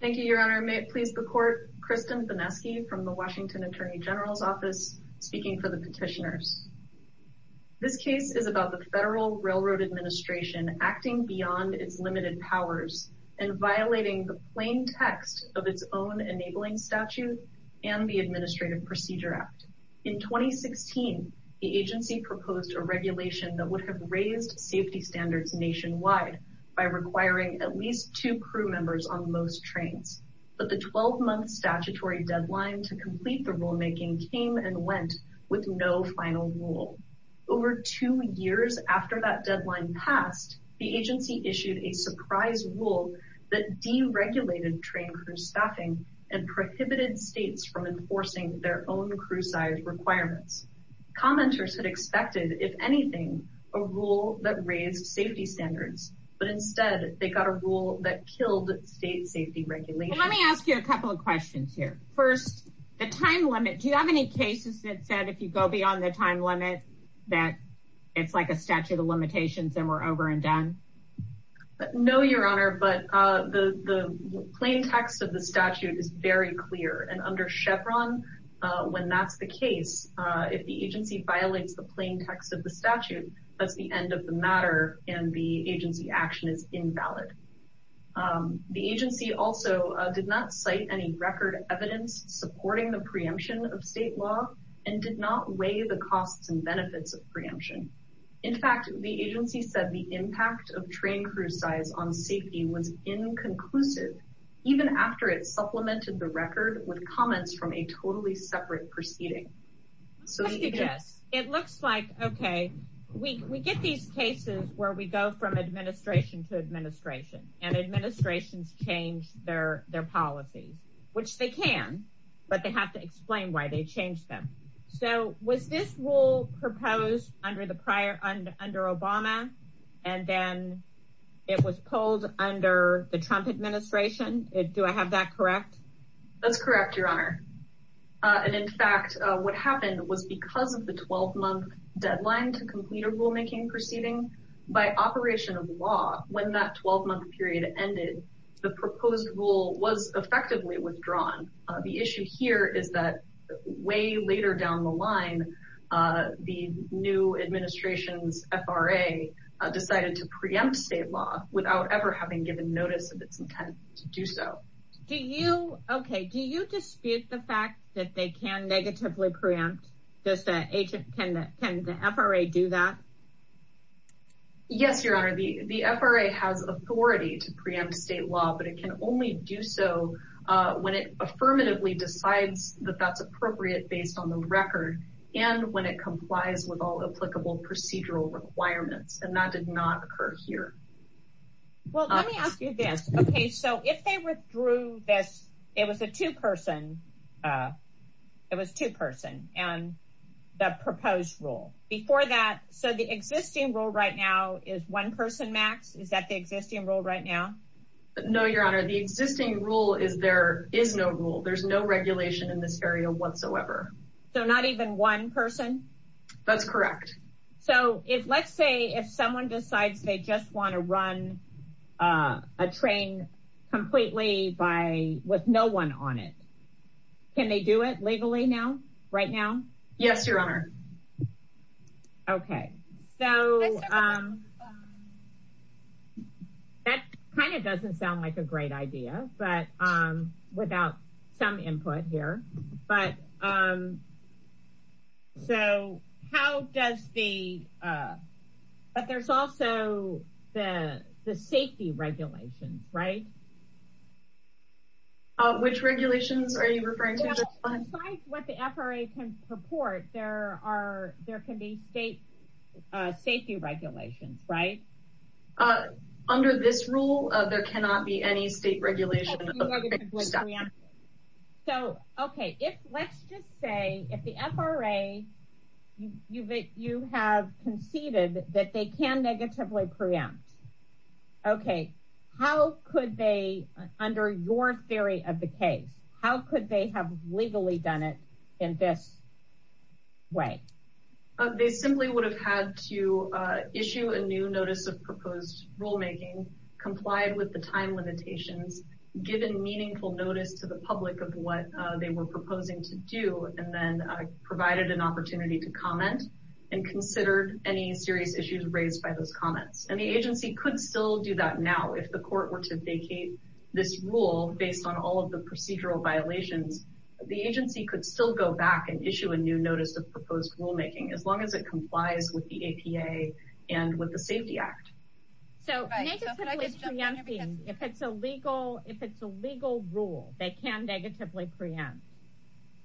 Thank you, Your Honor. May it please the Court, Kristen Benesky from the Washington Attorney General's Office, speaking for the petitioners. This case is about the Federal Railroad Administration acting beyond its limited powers and violating the plain text of its own enabling statute and the Administrative Procedure Act. In 2016, the agency proposed a regulation that would have raised safety standards nationwide by requiring at least two crew members on most trains. But the 12-month statutory deadline to complete the rulemaking came and went with no final rule. Over two years after that deadline passed, the agency issued a surprise rule that deregulated train crew staffing and prohibited states from enforcing their own crew size requirements. Commenters had expected, if anything, a rule that raised safety standards, but instead they got a rule that killed state safety regulations. Let me ask you a couple of questions here. First, the time limit, do you have any cases that said if you go beyond the time limit that it's like a statute of limitations and we're over and done? No, Your Honor, but the plain text of the statute is very clear and under Chevron, when that's the case, if the agency violates the plain text of the statute, that's the end of the matter and the agency action is invalid. The agency also did not cite any record evidence supporting the preemption of state law and did not weigh the costs and benefits of preemption. In fact, the agency said the impact of train crew size on safety was inconclusive, even after it supplemented the record with comments from a totally separate proceeding. It looks like, okay, we get these cases where we go from administration to administration and administrations change their policies, which they can, but they have to explain why they changed them. So was this rule proposed under Obama and then it was pulled under the Trump administration? Do I have that correct? That's correct, Your Honor. And in fact, what happened was because of the 12-month deadline to complete a rulemaking proceeding, by operation of law, when that 12-month period ended, the proposed rule was effectively withdrawn. The issue here is that way later down the line, the new administration's FRA decided to preempt state law without ever having given notice of its intent to do so. Okay, do you dispute the fact that they can negatively preempt? Can the FRA do that? Yes, Your Honor. The FRA has authority to preempt state law, but it can only do so when it affirmatively decides that that's appropriate based on the record and when it complies with all applicable procedural requirements. And that did not occur here. Well, let me ask you this. Okay, so if they withdrew this, it was a two-person, it was two-person and the proposed rule. Before that, so the existing rule right now is one person max? Is that the existing rule right now? No, Your Honor. The existing rule is there is no rule. There's no regulation in this area whatsoever. So not even one person? That's correct. So if let's say if someone decides they just want to run a train completely by with no one on it, can they do it legally now, right now? Yes, Your Honor. Okay, so that kind of doesn't sound like a great idea, but without some input here, but so how does the, but there's also the safety regulations, right? Which regulations are you referring to? Besides what the FRA can purport, there are, there can be state safety regulations, right? Under this rule, there cannot be any state regulation. So, okay, if let's just say if the FRA, you have conceded that they can negatively preempt, okay, how could they, under your theory of the case, how could they have legally done it in this way? They simply would have had to issue a new notice of proposed rulemaking, complied with the time limitations, given meaningful notice to the public of what they were proposing to do, and then provided an opportunity to comment and consider any serious issues raised by those comments. And the agency could still do that now, if the court were to vacate this rule based on all of the procedural violations, the agency could still go back and issue a new notice of proposed rulemaking, as long as it complies with the APA and with the Safety Act. So, negatively preempting, if it's a legal, if it's a legal rule, they can negatively preempt,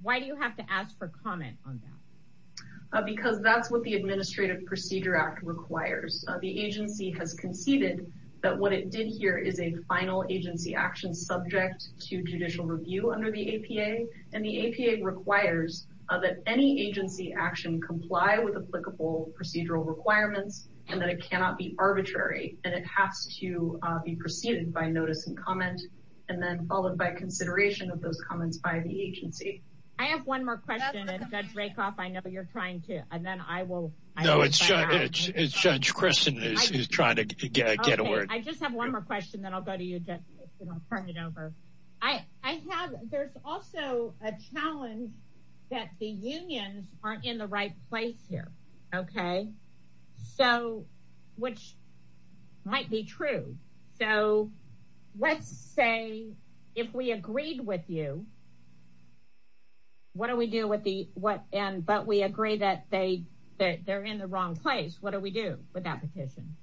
why do you have to ask for comment on that? Because that's what the Administrative Procedure Act requires. The agency has conceded that what it did here is a final agency action subject to judicial review under the APA, and the APA requires that any agency action comply with applicable procedural requirements, and that it cannot be arbitrary, and it has to be preceded by notice and comment, and then followed by consideration of those comments by the agency. I have one more question, and Judge Rakoff, I know you're trying to, and then I will. No, it's Judge Christin who's trying to get a word. Okay, I just have one more question, then I'll go to you, Judge, and I'll turn it over. I have, there's also a challenge that the unions aren't in the right place here, okay? So, which might be true. So, let's say if we agreed with you, what do we do with the, but we agree that they're in the wrong place, what do we do with that petition?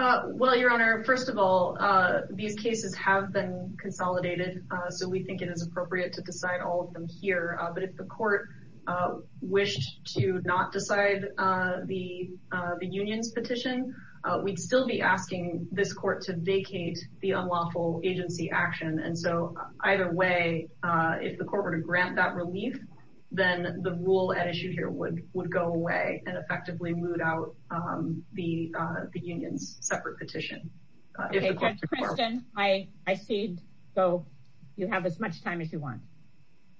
Well, Your Honor, first of all, these cases have been consolidated, so we think it is appropriate to decide all of them here, but if the court wished to not decide the unions petition, we'd still be asking this court to vacate the unlawful agency action, and so either way, if the court were to grant that relief, then the rule at issue here would go away and effectively moot out the unions separate petition. Okay, Judge Christin, I see, so you have as much time as you want.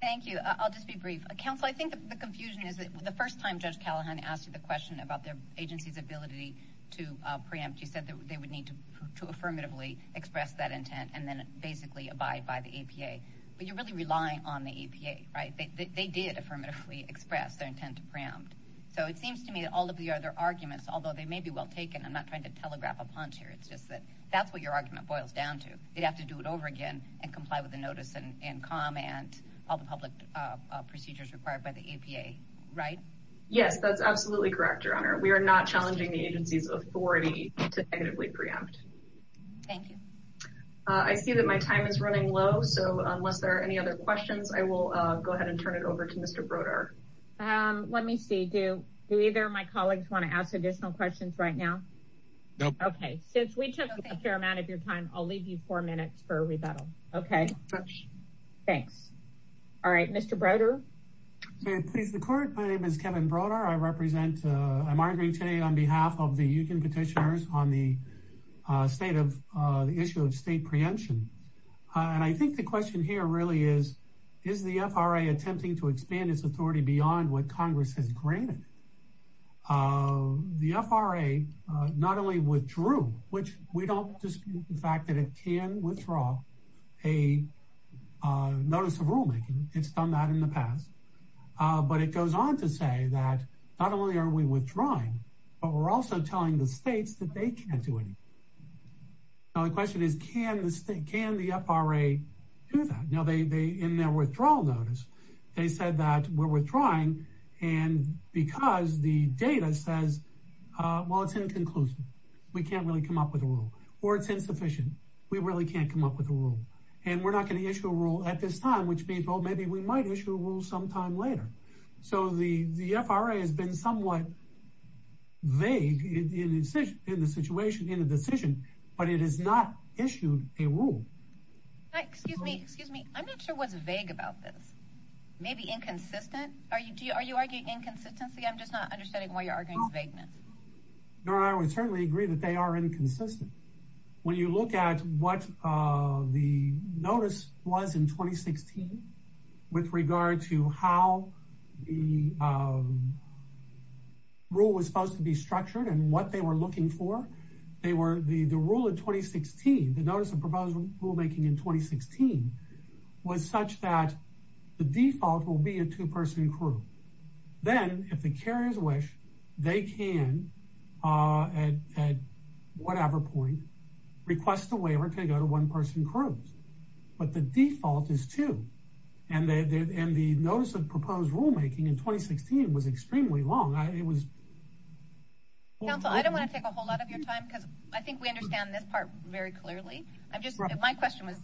Thank you, I'll just be brief. Counsel, I think the confusion is that the first time Judge Callahan asked you the question about the agency's ability to preempt, you said that they would need to affirmatively express that intent and then basically abide by the APA, but you're really relying on the APA, right? They did affirmatively express their intent to preempt, so it seems to me that all of the other arguments, although they may be well taken, I'm not trying to telegraph a punch here, it's just that that's what your argument boils down to. They'd have to do it over again and comply with the notice and comment, all the public procedures required by the APA, right? Yes, that's absolutely correct, Your Honor. We are not challenging the agency's authority to negatively preempt. Thank you. I see that my time is running low, so unless there are any other questions, I will go ahead and turn it over to Mr. Broder. Let me see, do either of my colleagues want to ask additional questions right now? Nope. Okay, since we took a fair amount of your time, I'll leave you four minutes for rebuttal. Okay. Thanks. All right, Mr. Broder? May it please the Court, my name is Kevin Broder. I represent, I'm arguing today on behalf of the U.N. petitioners on the state of, the issue of state preemption. And I think the question here really is, is the FRA attempting to expand its authority beyond what Congress has granted? The FRA not only withdrew, which we don't dispute the fact that it can withdraw a notice of rulemaking. It's done that in the past. But it goes on to say that not only are we withdrawing, but we're also telling the states that they can't do anything. Now the question is, can the FRA do that? Now they, in their withdrawal notice, they said that we're withdrawing, and because the data says, well, it's inconclusive. We can't really come up with a rule. Or it's insufficient. We really can't come up with a rule. And we're not going to issue a rule at this time, which means, well, maybe we might issue a rule sometime later. So the FRA has been somewhat vague in the situation, in the decision, but it has not issued a rule. Excuse me. I'm not sure what's vague about this. Maybe inconsistent. Are you arguing inconsistency? I'm just not understanding why you're arguing vagueness. No, I would certainly agree that they are inconsistent. When you look at what the notice was in 2016, with regard to how the rule was supposed to be structured and what they were looking for, the rule in 2016, the notice of proposed rulemaking in 2016, was such that the default will be a two-person crew. Then, if the carriers wish, they can, at whatever point, request a waiver to go to one-person crews. But the default is two. And the notice of proposed rulemaking in 2016 was extremely long. Counsel, I don't want to take a whole lot of your time, because I think we understand this part very clearly. My question was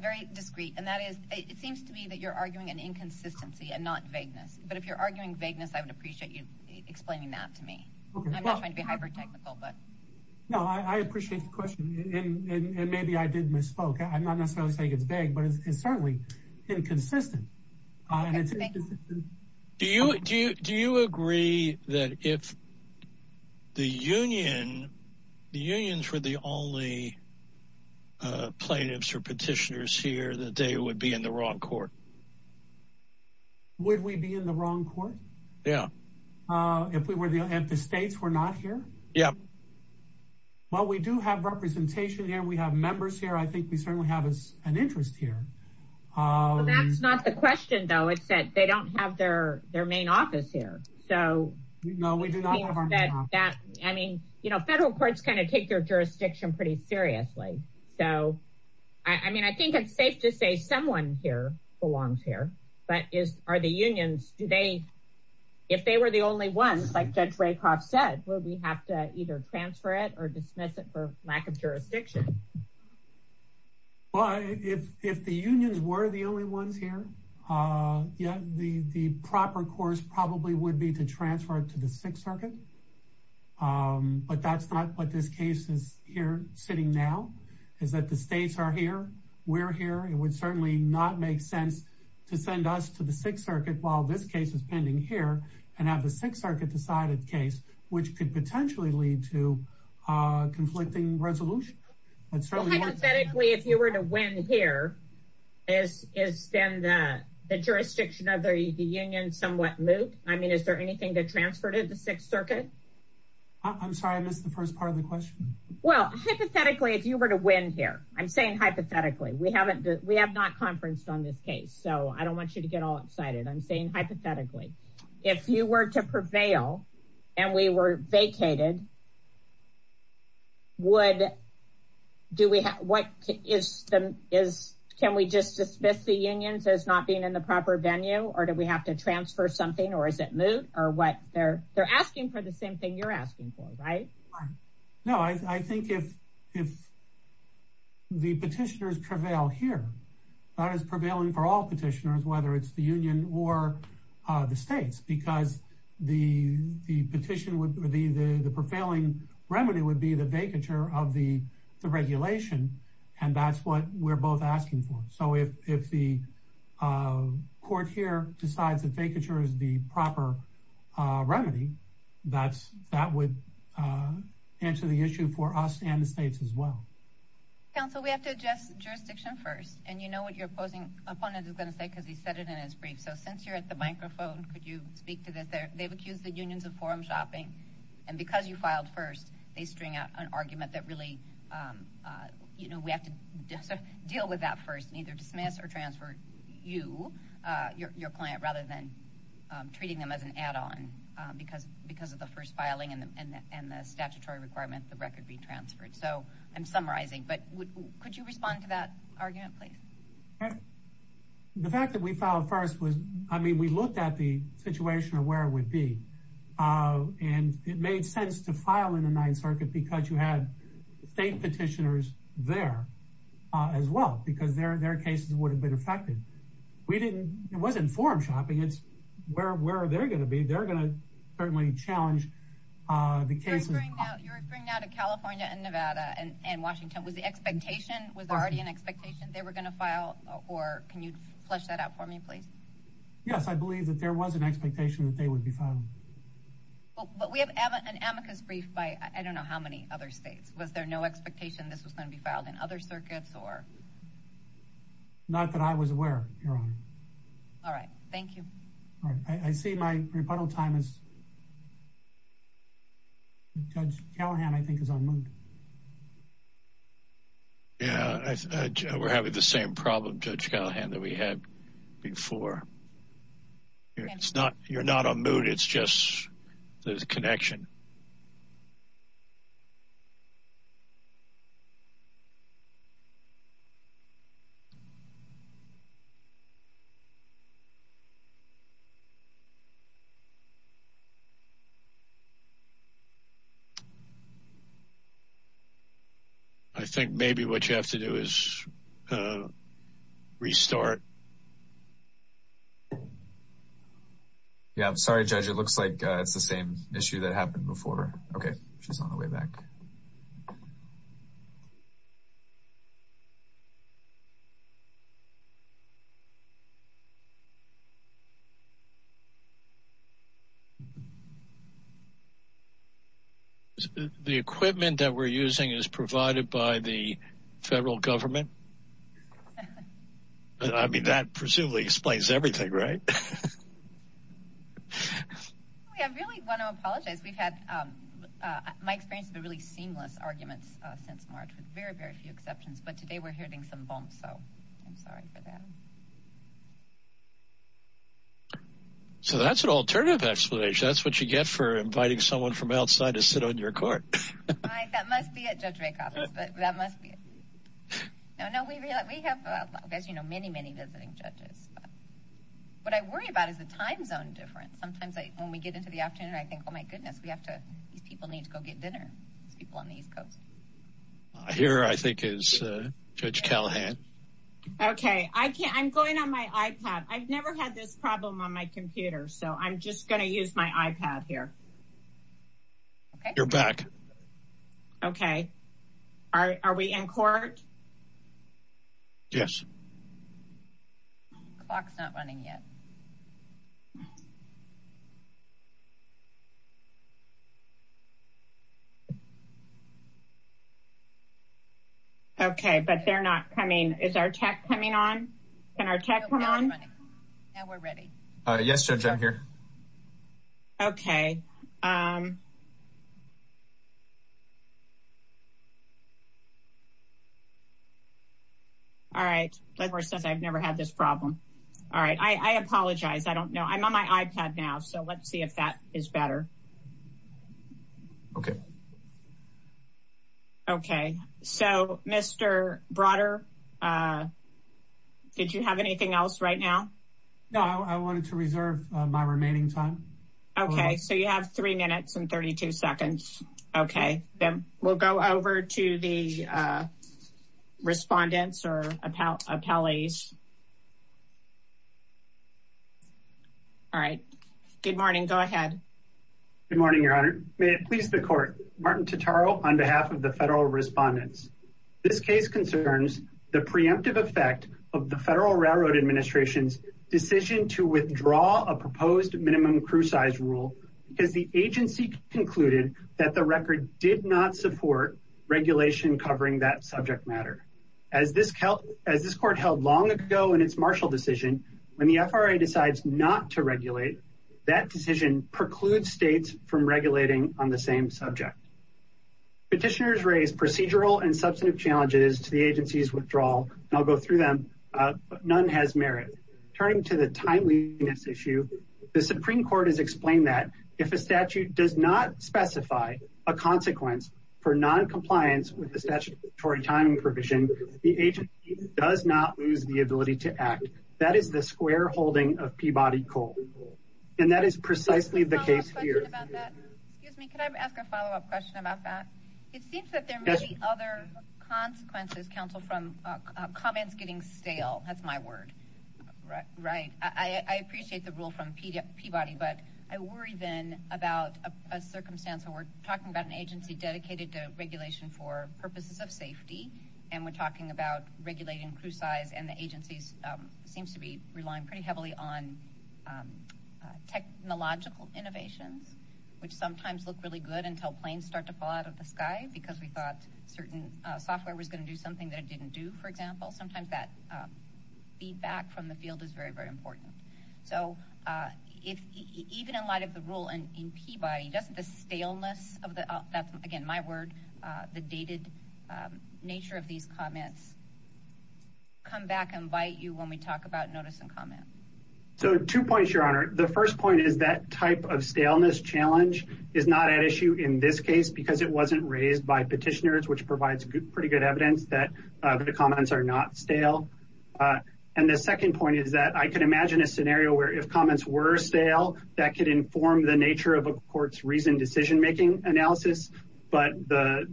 very discreet, and that is, it seems to me that you're arguing an inconsistency and not vagueness. But if you're arguing vagueness, I would appreciate you explaining that to me. I'm not trying to be hyper-technical. No, I appreciate the question, and maybe I did misspoke. I'm not necessarily saying it's vague, but it's certainly inconsistent. Do you agree that if the unions were the only plaintiffs or petitioners here, that they would be in the wrong court? Would we be in the wrong court? Yeah. If the states were not here? Yeah. Well, we do have representation here. We have members here. I think we certainly have an interest here. Well, that's not the question, though. It's that they don't have their main office here. No, we do not have our main office. I mean, federal courts kind of take their jurisdiction pretty seriously. So, I mean, I think it's safe to say someone here belongs here. But are the unions – if they were the only ones, like Judge Raycroft said, would we have to either transfer it or dismiss it for lack of jurisdiction? Well, if the unions were the only ones here, yeah, the proper course probably would be to transfer it to the Sixth Circuit. But that's not what this case is here sitting now. It's that the states are here. We're here. It would certainly not make sense to send us to the Sixth Circuit while this case is pending here and have the Sixth Circuit decide a case which could potentially lead to conflicting resolution. Hypothetically, if you were to win here, is then the jurisdiction of the union somewhat moot? I mean, is there anything to transfer to the Sixth Circuit? I'm sorry. I missed the first part of the question. Well, hypothetically, if you were to win here – I'm saying hypothetically. We have not conferenced on this case, so I don't want you to get all excited. I'm saying hypothetically. If you were to prevail and we were vacated, can we just dismiss the unions as not being in the proper venue? Or do we have to transfer something? Or is it moot? They're asking for the same thing you're asking for, right? No, I think if the petitioners prevail here, that is prevailing for all petitioners, whether it's the union or the states. Because the prevailing remedy would be the vacature of the regulation, and that's what we're both asking for. So if the court here decides that vacature is the proper remedy, that would answer the issue for us and the states as well. Counsel, we have to address jurisdiction first. And you know what your opposing opponent is going to say because he said it in his brief. So since you're at the microphone, could you speak to this? They've accused the unions of forum shopping. And because you filed first, they string out an argument that really, you know, we have to deal with that first and either dismiss or transfer you, your client, rather than treating them as an add-on because of the first filing and the statutory requirement the record be transferred. So I'm summarizing. But could you respond to that argument, please? The fact that we filed first was, I mean, we looked at the situation of where it would be. And it made sense to file in the Ninth Circuit because you had state petitioners there as well, because their cases would have been affected. We didn't. It wasn't forum shopping. It's where they're going to be. They're going to certainly challenge the cases. You're referring now to California and Nevada and Washington. Was the expectation was already an expectation they were going to file or can you flesh that out for me, please? Yes, I believe that there was an expectation that they would be found. But we have an amicus brief by I don't know how many other states. Was there no expectation this was going to be filed in other circuits or. Not that I was aware. All right. Thank you. All right. I see my rebuttal time is. Judge Callahan, I think, is on. Yeah, we're having the same problem, Judge Callahan, that we had before. It's not you're not a mood, it's just there's a connection. I think maybe what you have to do is restart. Yeah, I'm sorry, Judge. It looks like it's the same issue that happened before. OK, she's on the way back. The equipment that we're using is provided by the federal government. I mean, that presumably explains everything, right? I really want to apologize. We've had my experience of a really seamless arguments since March with very, very few exceptions. But today we're hitting some bumps. So I'm sorry for that. So that's an alternative explanation. That's what you get for inviting someone from outside to sit on your court. That must be it. That must be. No, no, we have, as you know, many, many visiting judges. What I worry about is the time zone difference. Sometimes when we get into the afternoon, I think, oh, my goodness, we have to. These people need to go get dinner. These people on the East Coast. Here, I think, is Judge Callahan. OK, I can't. I'm going on my iPad. I've never had this problem on my computer. So I'm just going to use my iPad here. You're back. OK, are we in court? Yes. Clock's not running yet. OK, but they're not coming. Is our tech coming on? Can our tech come on? Now we're ready. Yes, Judge, I'm here. OK. All right. The court says I've never had this problem. All right. I apologize. I don't know. I'm on my iPad now. So let's see if that is better. OK. OK. So, Mr. Broder, did you have anything else right now? No, I wanted to reserve my remaining time. OK, so you have three minutes and 32 seconds. OK, then we'll go over to the respondents or appellees. All right. Good morning. Go ahead. Good morning, Your Honor. May it please the court. Martin Totaro on behalf of the federal respondents. This case concerns the preemptive effect of the Federal Railroad Administration's decision to withdraw a proposed minimum crew size rule because the agency concluded that the record did not support regulation covering that subject matter. As this court held long ago in its Marshall decision, when the FRA decides not to regulate, that decision precludes states from regulating on the same subject. Petitioners raised procedural and substantive challenges to the agency's withdrawal, and I'll go through them. None has merit. Turning to the timeliness issue, the Supreme Court has explained that if a statute does not specify a consequence for noncompliance with the statutory timing provision, the agency does not lose the ability to act. That is the square holding of Peabody Cole. And that is precisely the case here. Excuse me. Could I ask a follow-up question about that? It seems that there are many other consequences, counsel, from comments getting stale. That's my word. Right. I appreciate the rule from Peabody, but I worry then about a circumstance where we're talking about an agency dedicated to regulation for purposes of safety, and we're talking about regulating crew size, and the agency seems to be relying pretty heavily on technological innovations, which sometimes look really good until planes start to fall out of the sky because we thought certain software was going to do something that it didn't do, for example. Sometimes that feedback from the field is very, very important. So even in light of the rule in Peabody, doesn't the staleness of the, again, my word, the dated nature of these comments come back and bite you when we talk about notice and comment? So two points, Your Honor. The first point is that type of staleness challenge is not at issue in this case because it wasn't raised by petitioners, which provides pretty good evidence that the comments are not stale. And the second point is that I can imagine a scenario where if comments were stale, that could inform the nature of a court's reason, decision-making analysis. But the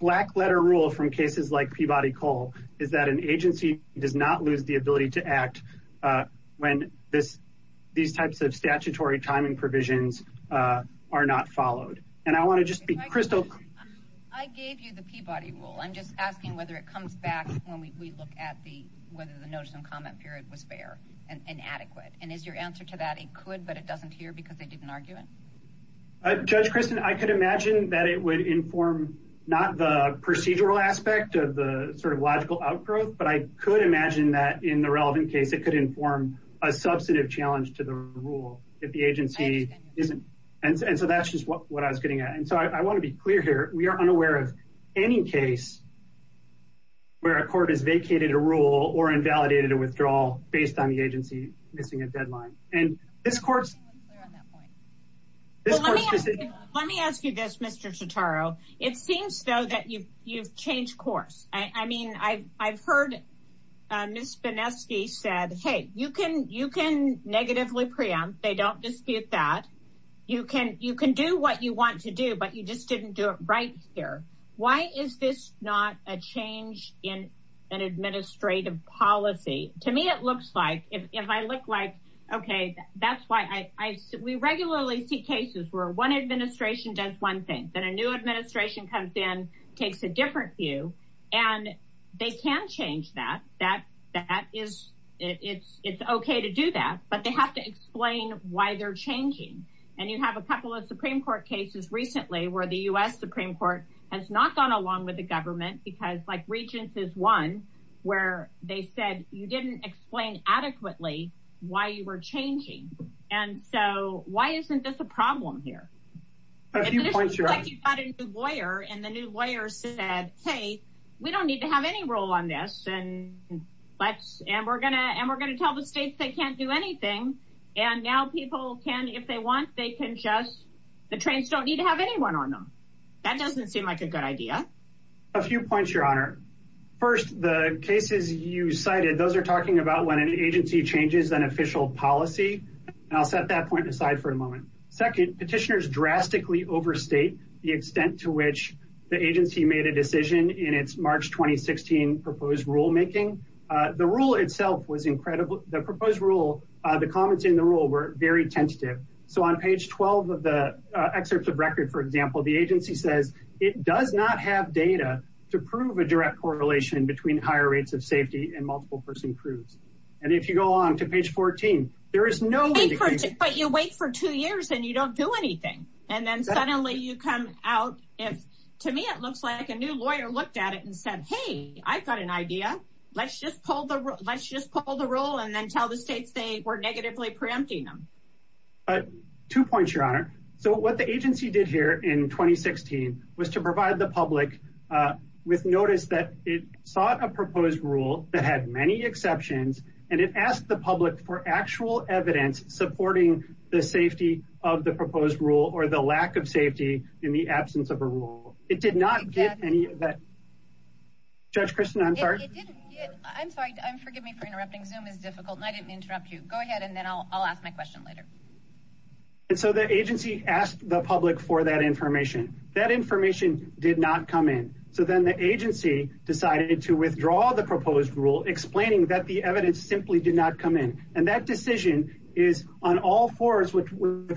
black letter rule from cases like Peabody Coal is that an agency does not lose the ability to act when these types of statutory timing provisions are not followed. And I want to just be crystal clear. I gave you the Peabody rule. I'm just asking whether it comes back when we look at the, whether the notice and comment period was fair and adequate. And is your answer to that? It could, but it doesn't hear because they didn't argue it. Judge Kristen, I could imagine that it would inform not the procedural aspect of the sort of logical outgrowth, but I could imagine that in the relevant case, it could inform a substantive challenge to the rule if the agency isn't. And so that's just what I was getting at. And so I want to be clear here. We are unaware of any case. Where a court is vacated a rule or invalidated a withdrawal based on the agency, missing a deadline. And this court's. Let me ask you this, Mr. Totaro. It seems so that you've, you've changed course. I mean, I I've heard. Ms. Benesky said, Hey, you can, you can negatively preempt. They don't dispute that. You can, you can do what you want to do, but you just didn't do it. Right here. Why is this not a change in an administrative policy? To me, it looks like if I look like, okay, that's why I, I, we regularly see cases where one administration does one thing. Then a new administration comes in, takes a different view. And they can change that. That, that is. It's it's okay to do that, But they have to explain why they're changing. And you have a couple of Supreme court cases recently where the U S Supreme court has not gone along with the government because like regions is one. Where they said you didn't explain adequately. Why you were changing. And so why isn't this a problem here? A few points, your lawyer and the new lawyer said, Hey, we don't need to have any role on this. And let's, and we're gonna, and we're going to tell the states they can't do anything. And now people can, if they want, they can just. The trains don't need to have anyone on them. That doesn't seem like a good idea. A few points, your honor. First, the cases you cited, those are talking about when an agency changes an official policy. And I'll set that point aside for a moment. Second petitioners drastically overstate the extent to which the agency made a decision in its March, 2016 proposed rulemaking. The rule itself was incredible. The proposed rule. The comments in the rule were very tentative. So on page 12 of the excerpts of record, for example, the agency says it does not have data. To prove a direct correlation between higher rates of safety and multiple person proves. And if you go on to page 14, there is no. You wait for two years and you don't do anything. And then suddenly you come out. To me, it looks like a new lawyer looked at it and said, Hey, I've got an idea. Let's just pull the rope. Let's just pull the roll and then tell the states they were negatively preempting them. Two points, your honor. So what the agency did here in 2016 was to provide the public. With notice that it sought a proposed rule that had many exceptions. And it asked the public for actual evidence, supporting the safety of the proposed rule or the lack of safety in the absence of a rule. It did not get any of that. Judge Kristen. I'm sorry. I'm sorry. I'm forgive me for interrupting. Zoom is difficult and I didn't interrupt you. Go ahead. And then I'll, I'll ask my question later. And so the agency asked the public for that information, that information did not come in. So then the agency decided to withdraw the proposed rule, explaining that the evidence simply did not come in. And that decision is on all fours with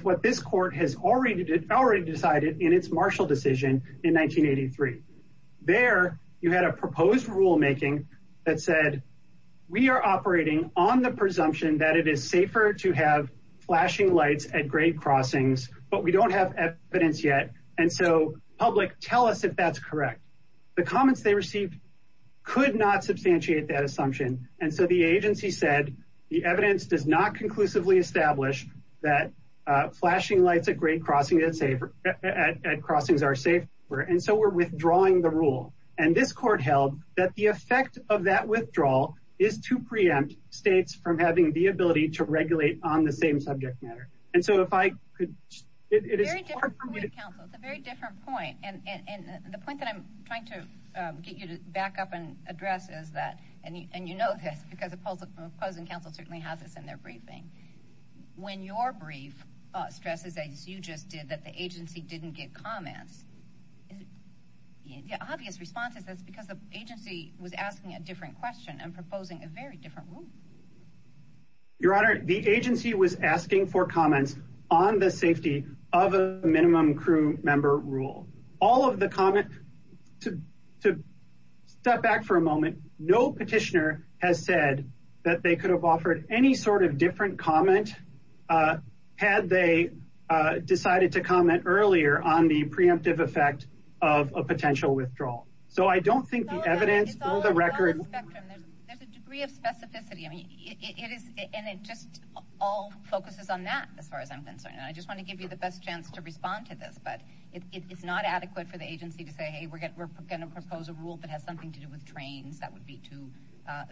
what this court has already did already decided in its Marshall decision in 1983. There you had a proposed rulemaking. That said, We are operating on the presumption that it is safer to have flashing lights at grade crossings, but we don't have evidence yet. And so public tell us if that's correct. The comments they received could not substantiate that assumption. And so the agency said, the evidence does not conclusively establish that flashing lights at great crossing it's safer at crossings are safe. And so we're withdrawing the rule. And this court held that the effect of that withdrawal is to preempt states from having the ability to regulate on the same subject matter. And so if I could. It's a very different point. And the point that I'm trying to get you to back up and address is that, and you know, this because it pulls up opposing council certainly has this in their briefing. When your brief stresses, as you just did that, the agency didn't get comments. Yeah. Obvious responses. That's because the agency was asking a different question and proposing a very different rule. Your honor, The agency was asking for comments on the safety of a minimum crew member rule. All of the comment. Step back for a moment. No petitioner has said that they could have offered any sort of different comment. Had they decided to comment earlier on the preemptive effect of a potential withdrawal. So I don't think the evidence. There's a degree of specificity. I mean, it is. And it just all focuses on that. As far as I'm concerned. And I just want to give you the best chance to respond to this, but it's not adequate for the agency to say, Hey, we're good. We're going to propose a rule that has something to do with trains. That would be too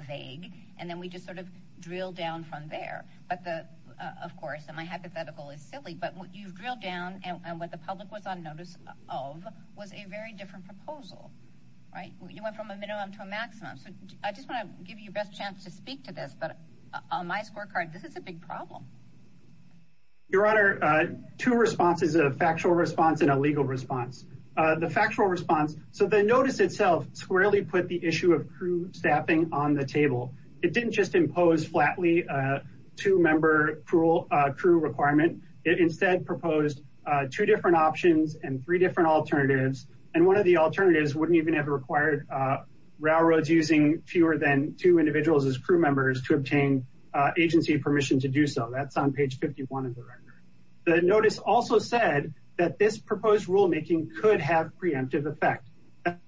vague. And then we just sort of drill down from there, but the, of course, and my hypothetical is silly, but you've drilled down. And what the public was on notice of was a very different proposal. Right. You went from a minimum to a maximum. I just want to give you the best chance to speak to this, but on my scorecard, this is a big problem. Your honor, two responses, a factual response and a legal response. The factual response. So the notice itself squarely put the issue of crew staffing on the table. It didn't just impose flatly. Two member cruel crew requirement. It instead proposed two different options and three different alternatives. And one of the alternatives wouldn't even have required railroads using fewer than two individuals as crew members to obtain agency permission to do so. That's on page 51 of the record. The notice also said that this proposed rulemaking could have preemptive effect.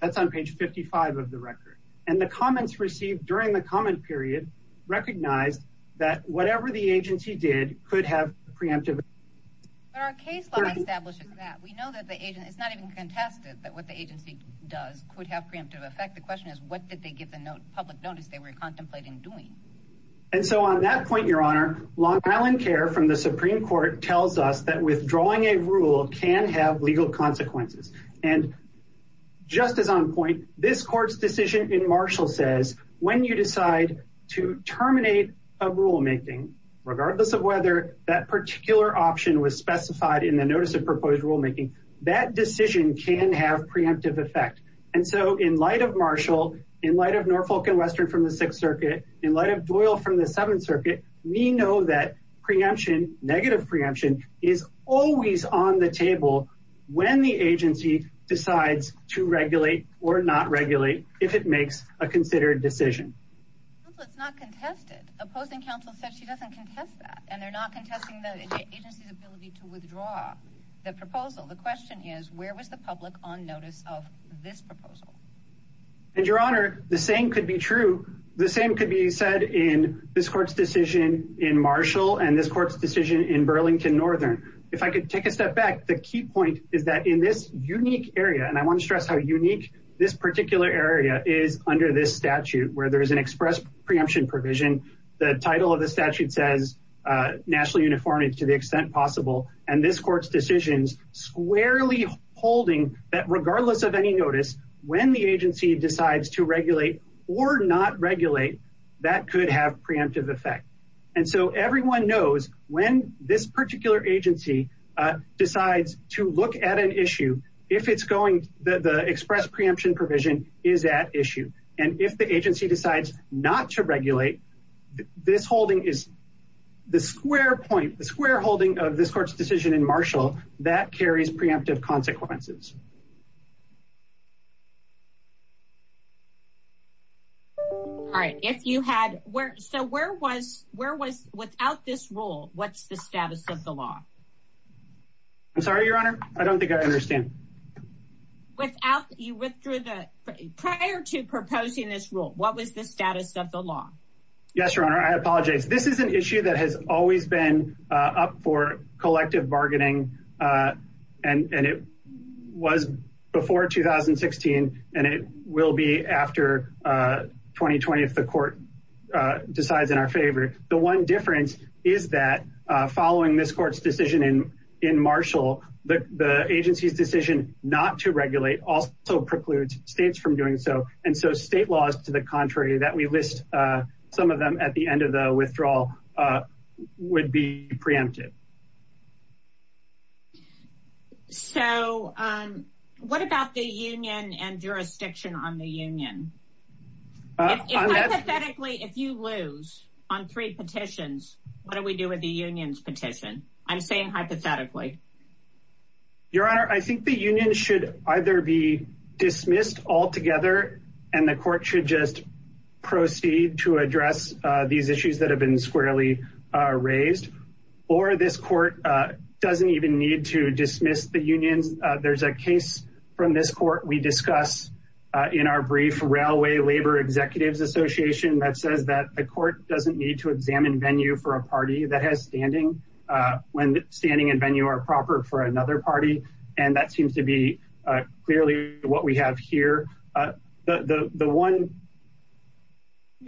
That's on page 55 of the record. And the comments received during the comment period. Recognized that whatever the agency did could have preemptive. Our case law establishes that we know that the agent is not even contested that what the agency does could have preemptive effect. The question is, what did they give the note public notice? They were contemplating doing. And so on that point, your honor, Long Island care from the Supreme court tells us that withdrawing a rule can have legal consequences. And just as on point, this court's decision in Marshall says, when you decide to terminate a rulemaking, Regardless of whether that particular option was specified in the notice of proposed rulemaking, that decision can have preemptive effect. And so in light of Marshall in light of Norfolk and Western from the sixth circuit, in light of Doyle from the seventh circuit, we know that preemption negative preemption is always on the table. When the agency decides to regulate or not regulate, if it makes a considered decision. Let's not contest it. Opposing counsel said she doesn't contest that and they're not contesting the agency's ability to withdraw the proposal. The question is where was the public on notice of this proposal? And your honor, the same could be true. The same could be said in this court's decision in Marshall and this court's decision in Burlington Northern. If I could take a step back, the key point is that in this unique area, and I want to stress how unique this particular area is under this statute where there is an express preemption provision. The title of the statute says nationally uniform. It's to the extent possible. And this court's decisions squarely holding that regardless of any notice, when the agency decides to regulate or not regulate, that could have preemptive effect. And so everyone knows when this particular agency decides to look at an issue, if it's going, the, the express preemption provision is at issue. And if the agency decides not to regulate this holding is the square point, the square holding of this court's decision in Marshall, that carries preemptive consequences. All right. If you had where, so where was, where was without this rule, what's the status of the law? I'm sorry, your honor. I don't think I understand. Without you withdrew the prior to proposing this rule, what was the status of the law? Yes, your honor. I apologize. This is an issue that has always been up for collective bargaining. And, and it was before 2016 and it will be after 2020. If the court decides in our favor, the one difference is that following this court's decision in, in Marshall, the agency's decision not to regulate also precludes states from doing so. And so state laws to the contrary that we list some of them at the end of the withdrawal would be preempted. So what about the union and jurisdiction on the union? If you lose on three petitions, what do we do with the union's petition? I'm saying hypothetically. Your honor. I think the union should either be dismissed altogether and the court should just proceed to address these issues that have been squarely raised or this court doesn't even need to dismiss the unions. There's a case from this court. We discuss in our brief railway labor executives association that says that the court doesn't need to examine venue for a party that has standing when standing and venue are proper for another party. And that seems to be clearly what we have here. The one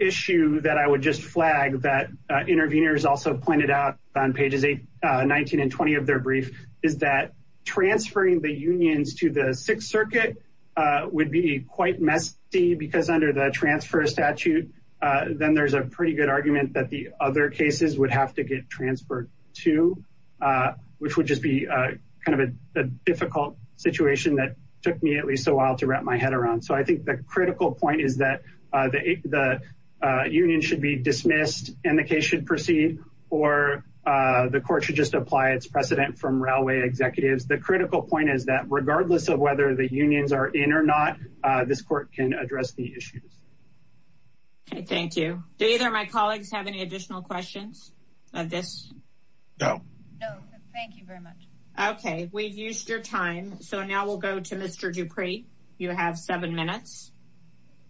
issue that I would just flag that intervenors also pointed out on pages eight, 19, and 20 of their brief. Is that transferring the unions to the sixth circuit would be quite messy because under the transfer statute, then there's a pretty good argument that the other cases would have to get transferred to which would just be kind of a difficult situation that took me at least a while to wrap my head around. So I think the critical point is that the union should be dismissed and the case should proceed or the court should just apply its precedent from railway executives. The critical point is that regardless of whether the unions are in or not, this court can address the issues. Okay. Thank you. Do either of my colleagues have any additional questions of this? No, no. Thank you very much. Okay. We've used your time. So now we'll go to Mr. Dupree. You have seven minutes.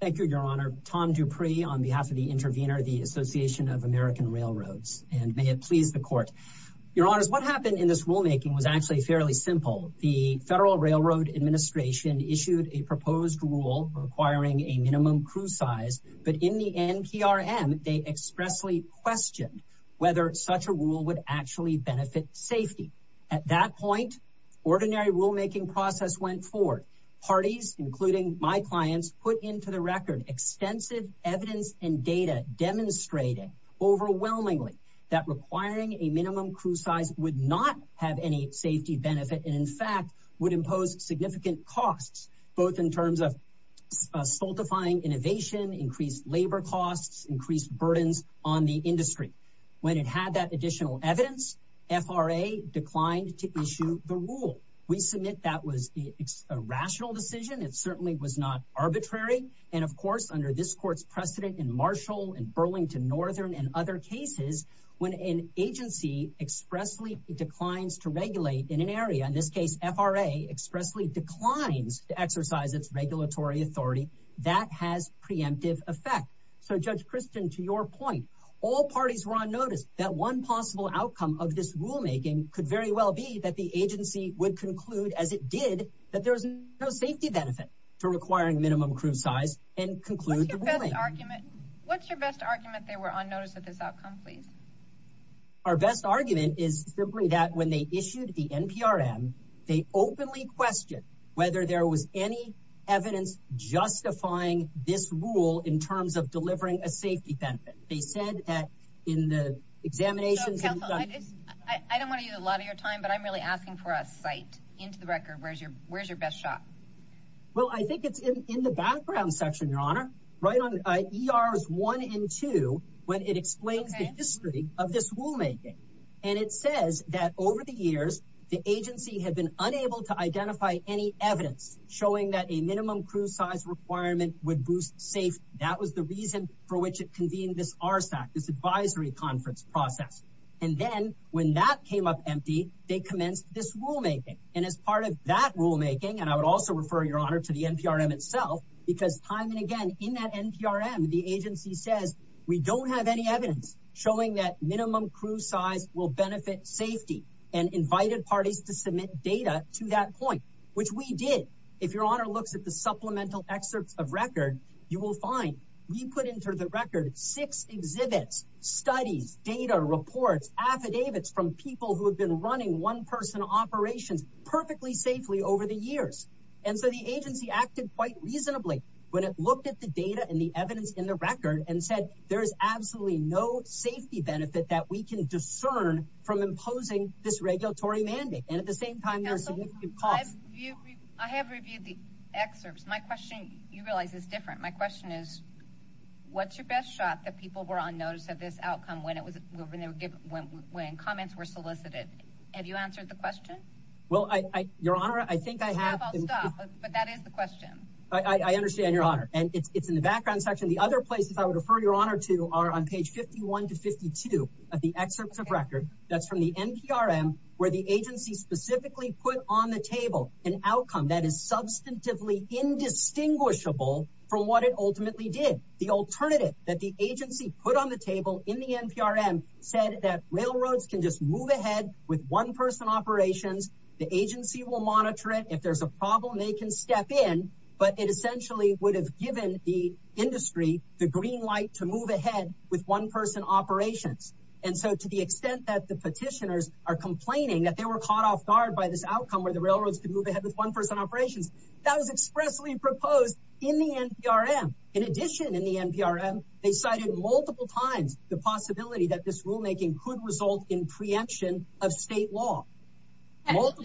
Thank you, your honor. Tom Dupree on behalf of the intervenor, the association of American railroads and may it please the court, your honors. What happened in this rulemaking was actually fairly simple. The federal railroad administration issued a proposed rule requiring a minimum crew size, but in the NPRM, they expressly questioned whether such a rule would actually benefit safety at that point. Ordinary rulemaking process went forward parties, including my clients put into the record extensive evidence and data demonstrating overwhelmingly that requiring a minimum crew size would not have any safety benefit. And in fact would impose significant costs, both in terms of saltifying innovation, increased labor costs, increased burdens on the industry. When it had that additional evidence, FRA declined to issue the rule we submit. That was a rational decision. It certainly was not arbitrary. And of course, under this court's precedent in Marshall and Burlington Northern and other cases, when an agency expressly declines to regulate in an area, in this case, FRA expressly declines to exercise its regulatory authority that has preemptive effect. So judge Kristen, to your point, all parties were on notice that one possible outcome of this rulemaking could very well be that the agency would conclude as it did, conclude the argument. What's your best argument? They were on notice of this outcome. Please. Our best argument is simply that when they issued the NPRM, they openly questioned whether there was any evidence justifying this rule in terms of delivering a safety benefit. They said that in the examinations, I don't want to use a lot of your time, but I'm really asking for a site into the record. Where's your, where's your best shot? Well, I think it's in the background section, your honor right on ERS one and two, when it explains the history of this rulemaking. And it says that over the years, the agency had been unable to identify any evidence showing that a minimum crew size requirement would boost safe. That was the reason for which it convened this RSAC, this advisory conference process. And then when that came up empty, they commenced this rulemaking. And as part of that rulemaking, and I would also refer your honor to the NPRM itself, because time and again in that NPRM, the agency says we don't have any evidence showing that minimum crew size will benefit safety and invited parties to submit data to that point, which we did. If your honor looks at the supplemental excerpts of record, you will find, we put into the record, six exhibits, studies, data reports, affidavits from people who have been running one person operations perfectly safely over the years. And so the agency acted quite reasonably when it looked at the data and the evidence in the record and said, there is absolutely no safety benefit that we can discern from imposing this regulatory mandate. And at the same time, there are significant costs. I have reviewed the excerpts. My question, you realize it's different. My question is what's your best shot that people were on notice of this outcome when it was, when they were given, when, when comments were solicited, have you answered the question? Well, I, your honor, I think I have, but that is the question. I understand your honor. And it's, it's in the background section. The other places I would refer your honor to are on page 51 to 52 of the excerpts of record. That's from the NPRM where the agency specifically put on the table, an outcome that is substantively indistinguishable from what it ultimately did. The alternative that the agency put on the table in the NPRM said that railroads can just move ahead with one person operations. The agency will monitor it. If there's a problem, they can step in, but it essentially would have given the industry the green light to move ahead with one person operations. And so to the extent that the petitioners are complaining that they were caught off guard by this outcome where the railroads could move ahead with one person operations that was expressly proposed in the NPRM. In addition, in the NPRM, they cited multiple times, the possibility that this rulemaking could result in preemption of state law. But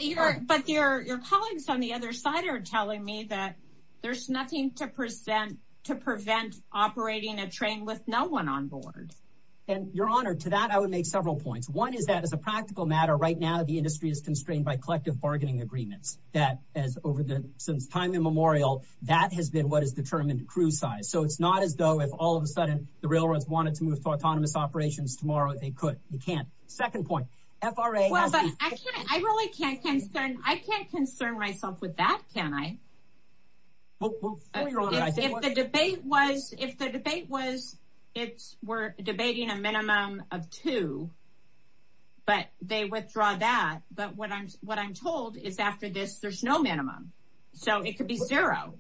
your colleagues on the other side are telling me that there's nothing to present to prevent operating a train with no one on board. And your honor to that, I would make several points. One is that as a practical matter, right now, the industry is constrained by collective bargaining agreements that as over the, since time immemorial, that has been, what is determined to cruise size. So it's not as though if all of a sudden the railroads wanted to move to autonomous operations tomorrow, they could, you can't second point FRA. I really can't concern. I can't concern myself with that. Can I? Well, if the debate was, if the debate was, it's we're debating a minimum of two, but they withdraw that. But what I'm, what I'm told is after this, there's no minimum. So it could be zero.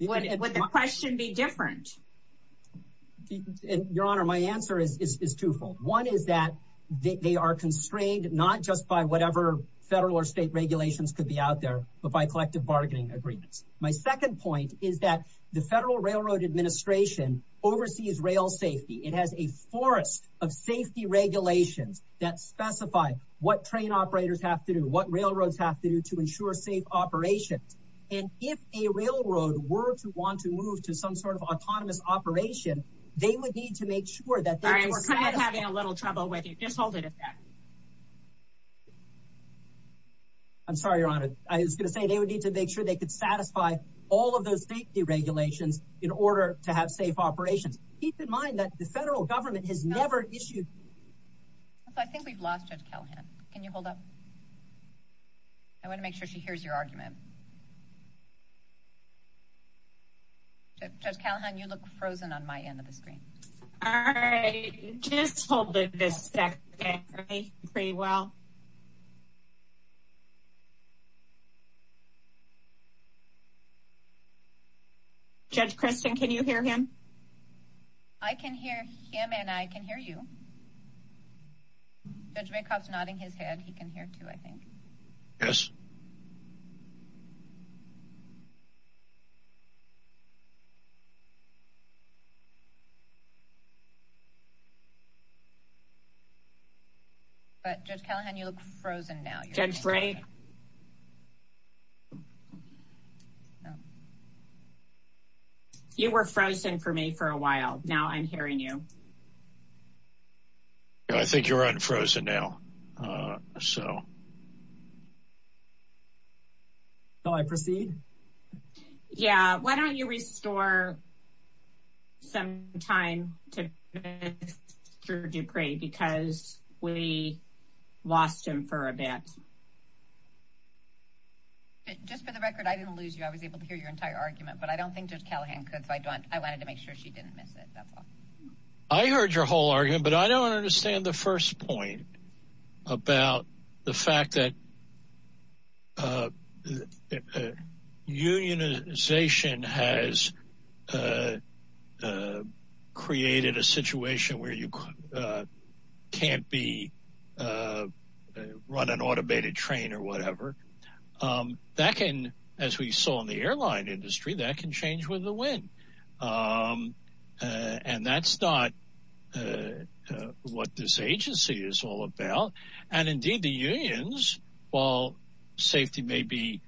Would the question be different? Your honor. My answer is, is, is twofold. One is that they are constrained, not just by whatever federal or state regulations could be out there, but by collective bargaining agreements. My second point is that the federal railroad administration oversees rail safety. It has a forest of safety regulations that specify what train operators have to do, what railroads have to do to ensure safe operations. And if a railroad were to want to move to some sort of autonomous operation, they would need to make sure that they're having a little trouble with you. Just hold it. I'm sorry, your honor. I was going to say they would need to make sure they could satisfy all of those safety regulations in order to have safe operations. Keep in mind that the federal government has never issued. So I think we've lost judge Callahan. Can you hold up? I want to make sure she hears your argument. Judge Callahan, you look frozen on my end of the screen. All right. Just hold this pretty well. Judge Kristen, can you hear him? I can hear him and I can hear you. Judge Maycock's nodding his head. He can hear too, I think. Yes. But Judge Callahan, you look frozen now. You were frozen for me for a while. Now I'm hearing you. I think you're unfrozen now. So. So I proceed. Yeah. Why don't you restore some time to Mr. Dupree because we lost him for a bit. Just for the record, I didn't lose you. I was able to hear your entire argument, but I don't think Judge Callahan could. So I don't I wanted to make sure she didn't miss it. I heard your whole argument, but I don't understand the first point about the fact that. Unionization has. Created a situation where you can't be run an automated train or whatever that can. As we saw in the airline industry, that can change with the wind. And that's not what this agency is all about. And indeed, the unions, while safety may be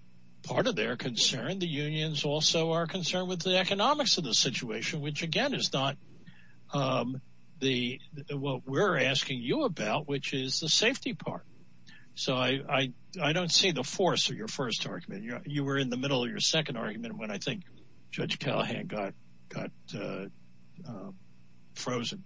part of their concern, the unions also are concerned with the economics of the situation, which, again, is not the what we're asking you about, which is the safety part. So I don't see the force of your first argument. You were in the middle of your second argument when I think Judge Callahan got got. Frozen.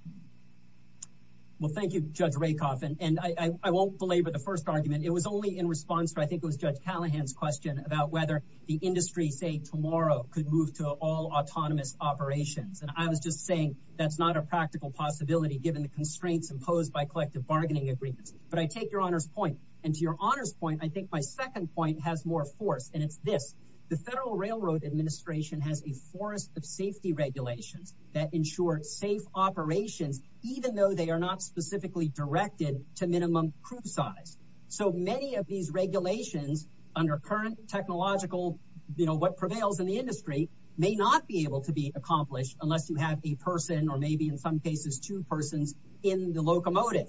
Well, thank you, Judge Rakoff. And I won't belabor the first argument. It was only in response to I think it was Judge Callahan's question about whether the industry say tomorrow could move to all autonomous operations. And I was just saying that's not a practical possibility given the constraints imposed by collective bargaining agreements. But I take your honor's point. And to your honor's point, I think my second point has more force. And it's this. The Federal Railroad Administration has a force of safety regulations that ensure safe operations, even though they are not specifically directed to minimum crew size. So many of these regulations under current technological, you know, what prevails in the industry may not be able to be accomplished unless you have a person or maybe in some cases two persons in the locomotive.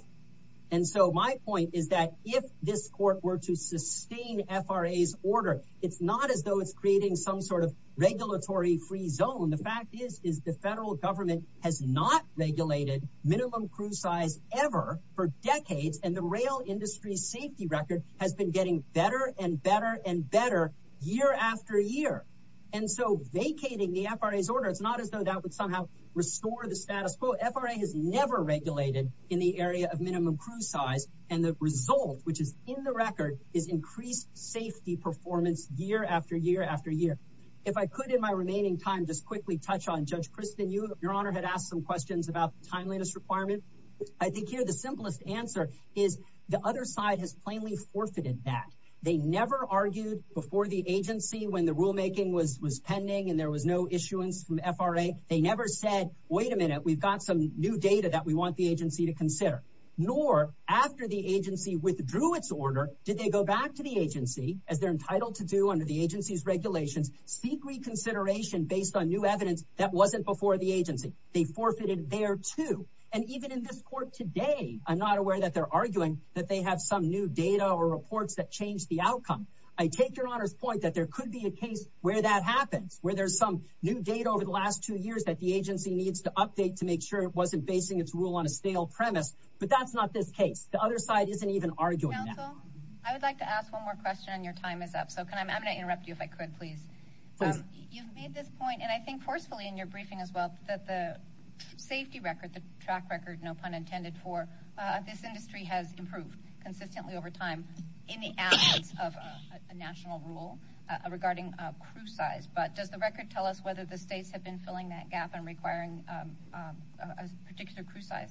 And so my point is that if this court were to sustain FRA's order, it's not as though it's creating some sort of regulatory free zone. The fact is, is the federal government has not regulated minimum crew size ever for decades. And the rail industry safety record has been getting better and better and better year after year. And so vacating the FRA's order, it's not as though that would somehow restore the status quo. FRA has never regulated in the area of minimum crew size. And the result, which is in the record, is increased safety performance year after year after year. If I could, in my remaining time, just quickly touch on Judge Kristen, you, Your Honor, had asked some questions about timeliness requirement. I think here the simplest answer is the other side has plainly forfeited that. They never argued before the agency when the rulemaking was was pending and there was no issuance from FRA. They never said, wait a minute, we've got some new data that we want the agency to consider. Nor after the agency withdrew its order, did they go back to the agency as they're entitled to do under the agency's regulations, seek reconsideration based on new evidence that wasn't before the agency. They forfeited there too. And even in this court today, I'm not aware that they're arguing that they have some new data or reports that change the outcome. I take Your Honor's point that there could be a case where that happens, where there's some new data over the last two years that the agency needs to update to make sure it wasn't basing its rule on a stale premise. But that's not this case. The other side isn't even arguing that. I would like to ask one more question and your time is up. So I'm going to interrupt you if I could, please. You've made this point and I think forcefully in your briefing as well that the safety record, the track record, no pun intended for this industry has improved consistently over time in the absence of a national rule regarding crew size. But does the record tell us whether the states have been filling that gap and requiring a particular crew size?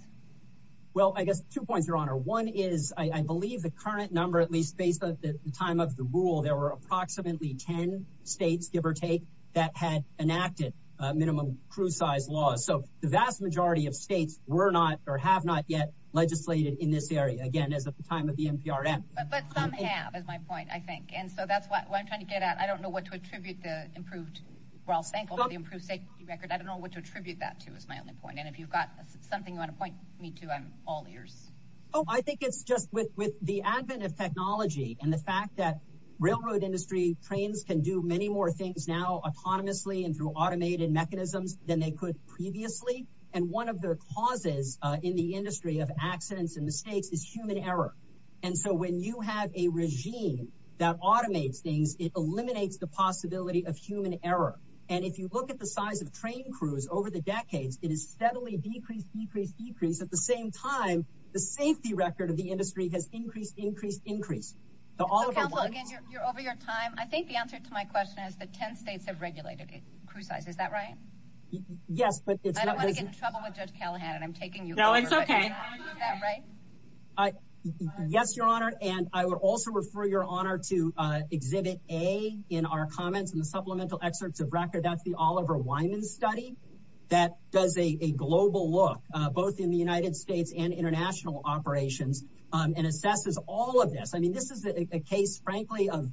Well, I guess two points, Your Honor. One is, I believe the current number, at least based on the time of the rule, there were approximately 10 states, give or take, that had enacted minimum crew size laws. So the vast majority of states were not or have not yet legislated in this area. Again, as at the time of the NPRM. But some have, is my point, I think. And so that's what I'm trying to get at. I don't know what to attribute the improved safety record. I don't know what to attribute that to, is my only point. And if you've got something you want to point me to, I'm all ears. I think it's just with the advent of technology and the fact that railroad industry trains can do many more things now autonomously and through automated mechanisms than they could previously. And one of their causes in the industry of accidents and mistakes is human error. And so when you have a regime that automates things, it eliminates the possibility of human error. And if you look at the size of train crews over the decades, it has steadily decreased, decreased, decreased. At the same time, the safety record of the industry has increased, increased, increased. So counsel, again, you're over your time. I think the answer to my question is, yes, but I don't want to get in trouble with Judge Callahan and I'm taking you. No, it's OK. Right. Yes, Your Honor. And I would also refer your honor to exhibit a in our comments and the supplemental excerpts of record. That's the Oliver Wyman study that does a global look both in the United States and international operations and assesses all of this. I mean, this is a case, frankly, of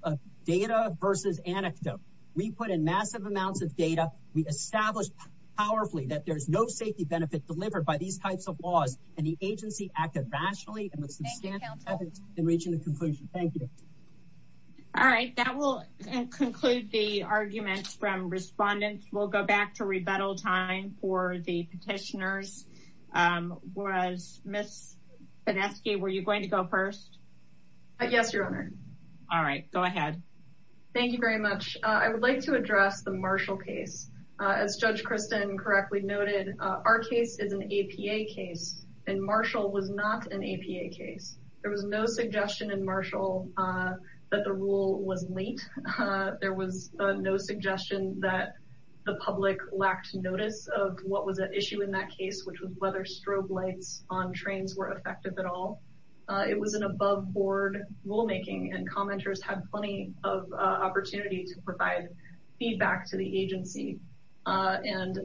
data versus anecdote. We put in massive amounts of data. We established powerfully that there's no safety benefit delivered by these types of laws. And the agency acted rationally and with substantive evidence in reaching the conclusion. Thank you. All right. That will conclude the arguments from respondents. We'll go back to rebuttal time for the petitioners. Whereas Miss Fineski, were you going to go first? Yes, Your Honor. All right. Go ahead. Thank you very much. I would like to address the Marshall case. As Judge Kristen correctly noted, our case is an APA case and Marshall was not an APA case. There was no suggestion in Marshall that the rule was late. There was no suggestion that the public lacked notice of what was at issue in that case, which was whether strobe lights on trains were effective at all. It was an above board rulemaking and commenters had plenty of opportunity to provide feedback to the agency. And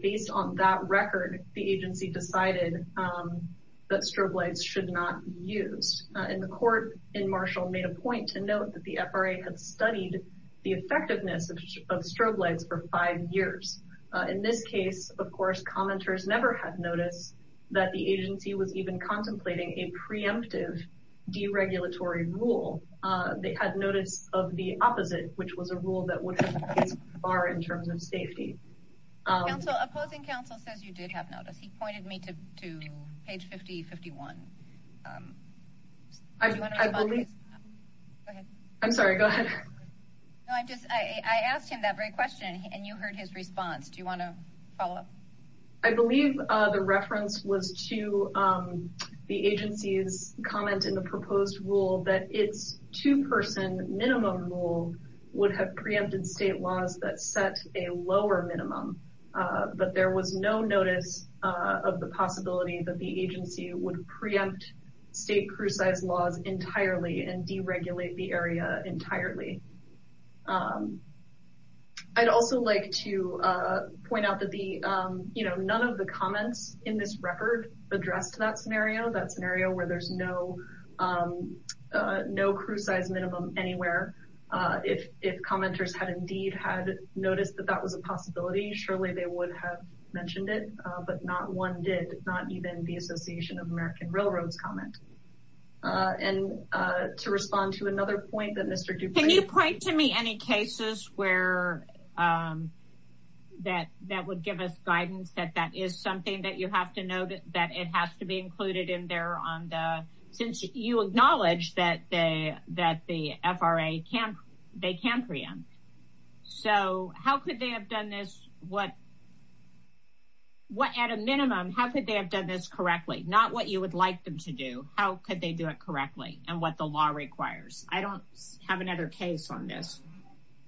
based on that record, the agency decided that strobe lights should not be used. And the court in Marshall made a point to note that the FRA had studied the effectiveness of strobe lights for five years. In this case, of course, commenters never had notice that the agency was even contemplating a preemptive deregulatory rule. They had notice of the opposite, which was a rule that would affect the bar in terms of safety. Opposing counsel says you did have notice. He pointed me to page 5051. I'm sorry. Go ahead. I asked him that very question and you heard his response. Do you want to follow up? I believe the reference was to the agency's comment in the proposed rule that it's two person minimum rule would have preempted state laws that set a lower minimum. But there was no notice of the possibility that the agency would preempt state precise laws entirely and deregulate the area entirely. I'd also like to point out that the you know, none of the comments in this record addressed that scenario, that scenario where there's no no crew size minimum anywhere. If commenters had indeed had noticed that that was a possibility, surely they would have mentioned it. But not one did. Not even the Association of American Railroads comment. And to respond to another point that Mr. Dupree Can you point to me any cases where that that would give us guidance that that is something that you have to know that it has to be included in there on the since you acknowledge that they that the FRA can't they can't preempt. So how could they have done this? What what at a minimum, how could they have done this to how could they do it correctly and what the law requires? I don't have another case on this.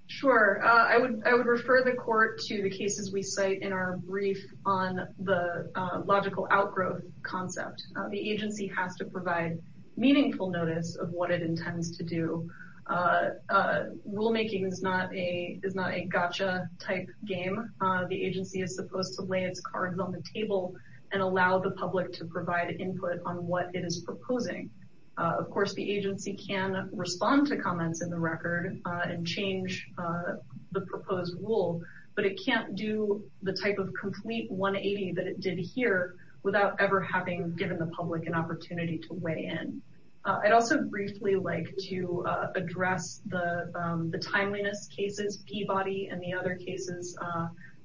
Sure. I would I would refer the court to the cases we cite in our brief on the logical outgrowth concept. The agency has to provide meaningful notice of what it intends to do. Rulemaking is not a is not a gotcha type game. The agency is supposed to lay its own table and allow the public to provide input on what it is proposing. Of course, the agency can respond to comments in the record and change the proposed rule, but it can't do the type of complete 180 that it did here without ever having given the public an opportunity to weigh in. I'd also briefly like to address the timeliness cases, Peabody and the other cases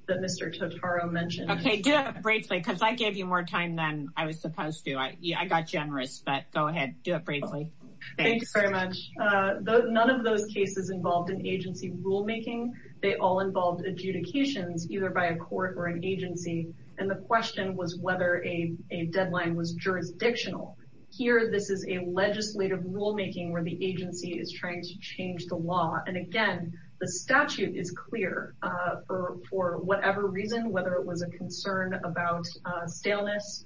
that Mr. Totaro mentioned. OK, do it briefly because I gave you more time than I was supposed to. I got generous. But go ahead. Do it briefly. Thanks very much. None of those cases involved an agency rulemaking. They all involved adjudications either by a court or an agency. And the question was whether a deadline was jurisdictional. Here, this is a legislative rulemaking where the agency is trying to change the law. And again, the statute is clear for whatever reason, whether it was a concern about staleness,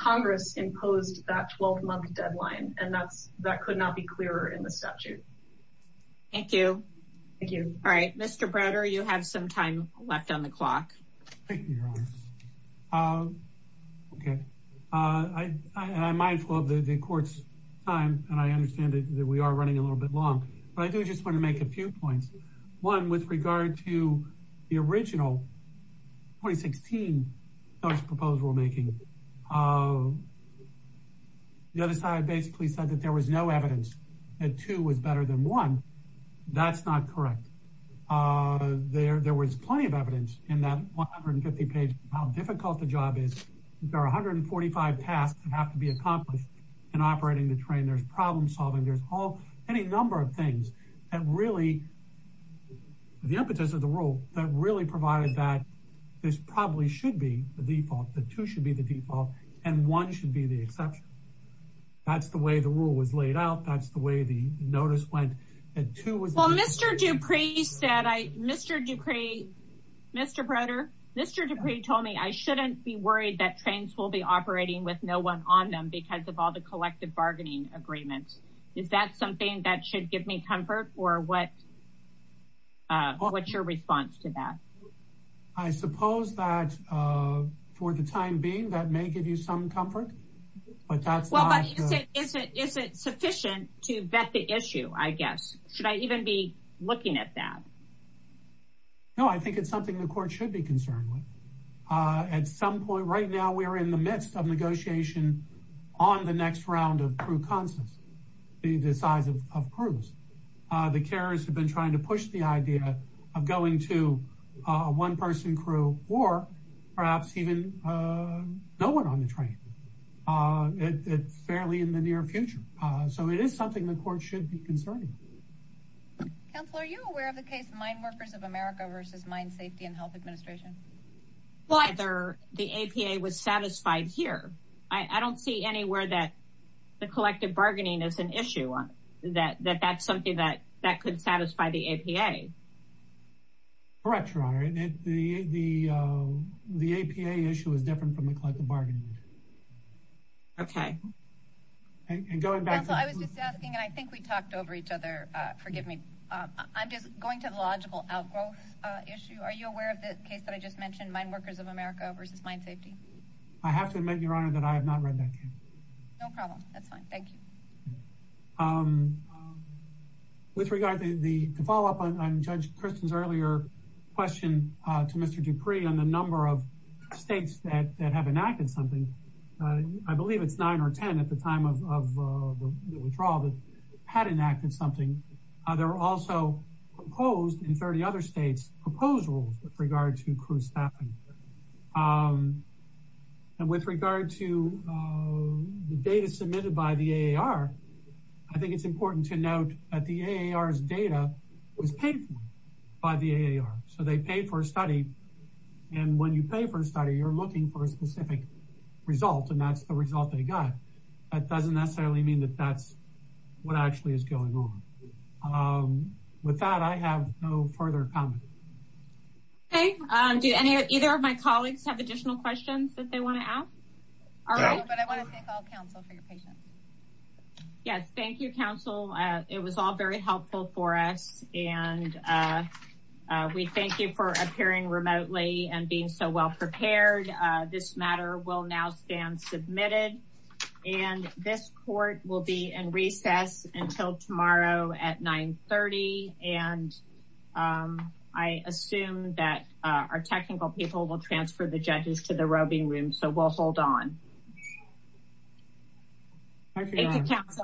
Congress imposed that 12 month deadline. And that's that could not be clearer in the statute. Thank you. Thank you. All right. Mr. Browder, you have some time left on the clock. OK, I am mindful of the court's time, and I understand that we are running a little bit long, but I do just want to make a few points. One, with regard to the original 2016 proposed rulemaking, the other side basically said that there was no evidence that two was better than one. That's not correct. There was plenty of evidence in that 150 page about how difficult the job is. There are 145 tasks that have to be accomplished in operating the train. There's problem solving. There's all, any number of things that really, the impetus of the rule, that really provided that this probably should be the default, that two should be the default and one should be the exception. That's the way the rule was laid out. That's the way the notice went. Well, Mr. Dupree said, Mr. Dupree, Mr. Browder, Mr. Dupree told me I shouldn't be worried that trains will be operating with no one on them because of all the collective bargaining agreements. Is that something that should give me comfort or what? What's your response to that? I suppose that for the time being, that may give you some comfort, but that's not. Is it sufficient to vet the issue? I guess. Should I even be looking at that? No, I think it's something the court should be concerned with. At some point right now, we are in the midst of negotiation on the next round of crew consents, the size of crews. The carriers have been trying to push the idea of going to a one-person crew or perhaps even no one on the train. It's fairly in the near future. So it is something the court should be concerned with. Counselor, are you aware of the case of Mine Workers of America versus Mine Safety and Health Administration? The APA was satisfied here. I don't see anywhere that the collective bargaining is an issue, that that's something that could satisfy the APA. Correct, Your Honor. The APA issue is different from the collective bargaining. Okay. Counselor, I was just asking, and I think we talked over each other. Forgive me. I'm just going to the logical outgrowth issue. Are you aware of the case that I just mentioned, Mine Workers of America versus Mine Safety? I have to admit, Your Honor, that I have not read that case. No problem. That's fine. Thank you. With regard to the follow-up on Judge Kristin's earlier question to Mr. Dupree on the number of states that have enacted something, I believe it's nine or ten at the time of the withdrawal that had enacted something. There were also proposed in 30 other states, proposed rules with regard to crew staffing. And with regard to the data submitted by the AAR, I think it's important to note that the AAR's data was paid for by the AAR. So they paid for a study. And when you pay for a study, you're looking for a specific result, and that's the result they got. That doesn't necessarily mean that that's what actually is going on. With that, I have no further comment. Okay. Do either of my colleagues have additional questions that they want to ask? No, but I want to thank all counsel for your patience. Yes. Thank you, counsel. It was all very helpful for us. And we thank you for appearing remotely and being so well prepared. This matter will now stand submitted. And this court will be in recess until tomorrow at 930. And I assume that our technical people will transfer the judges to the roving room. So we'll hold on.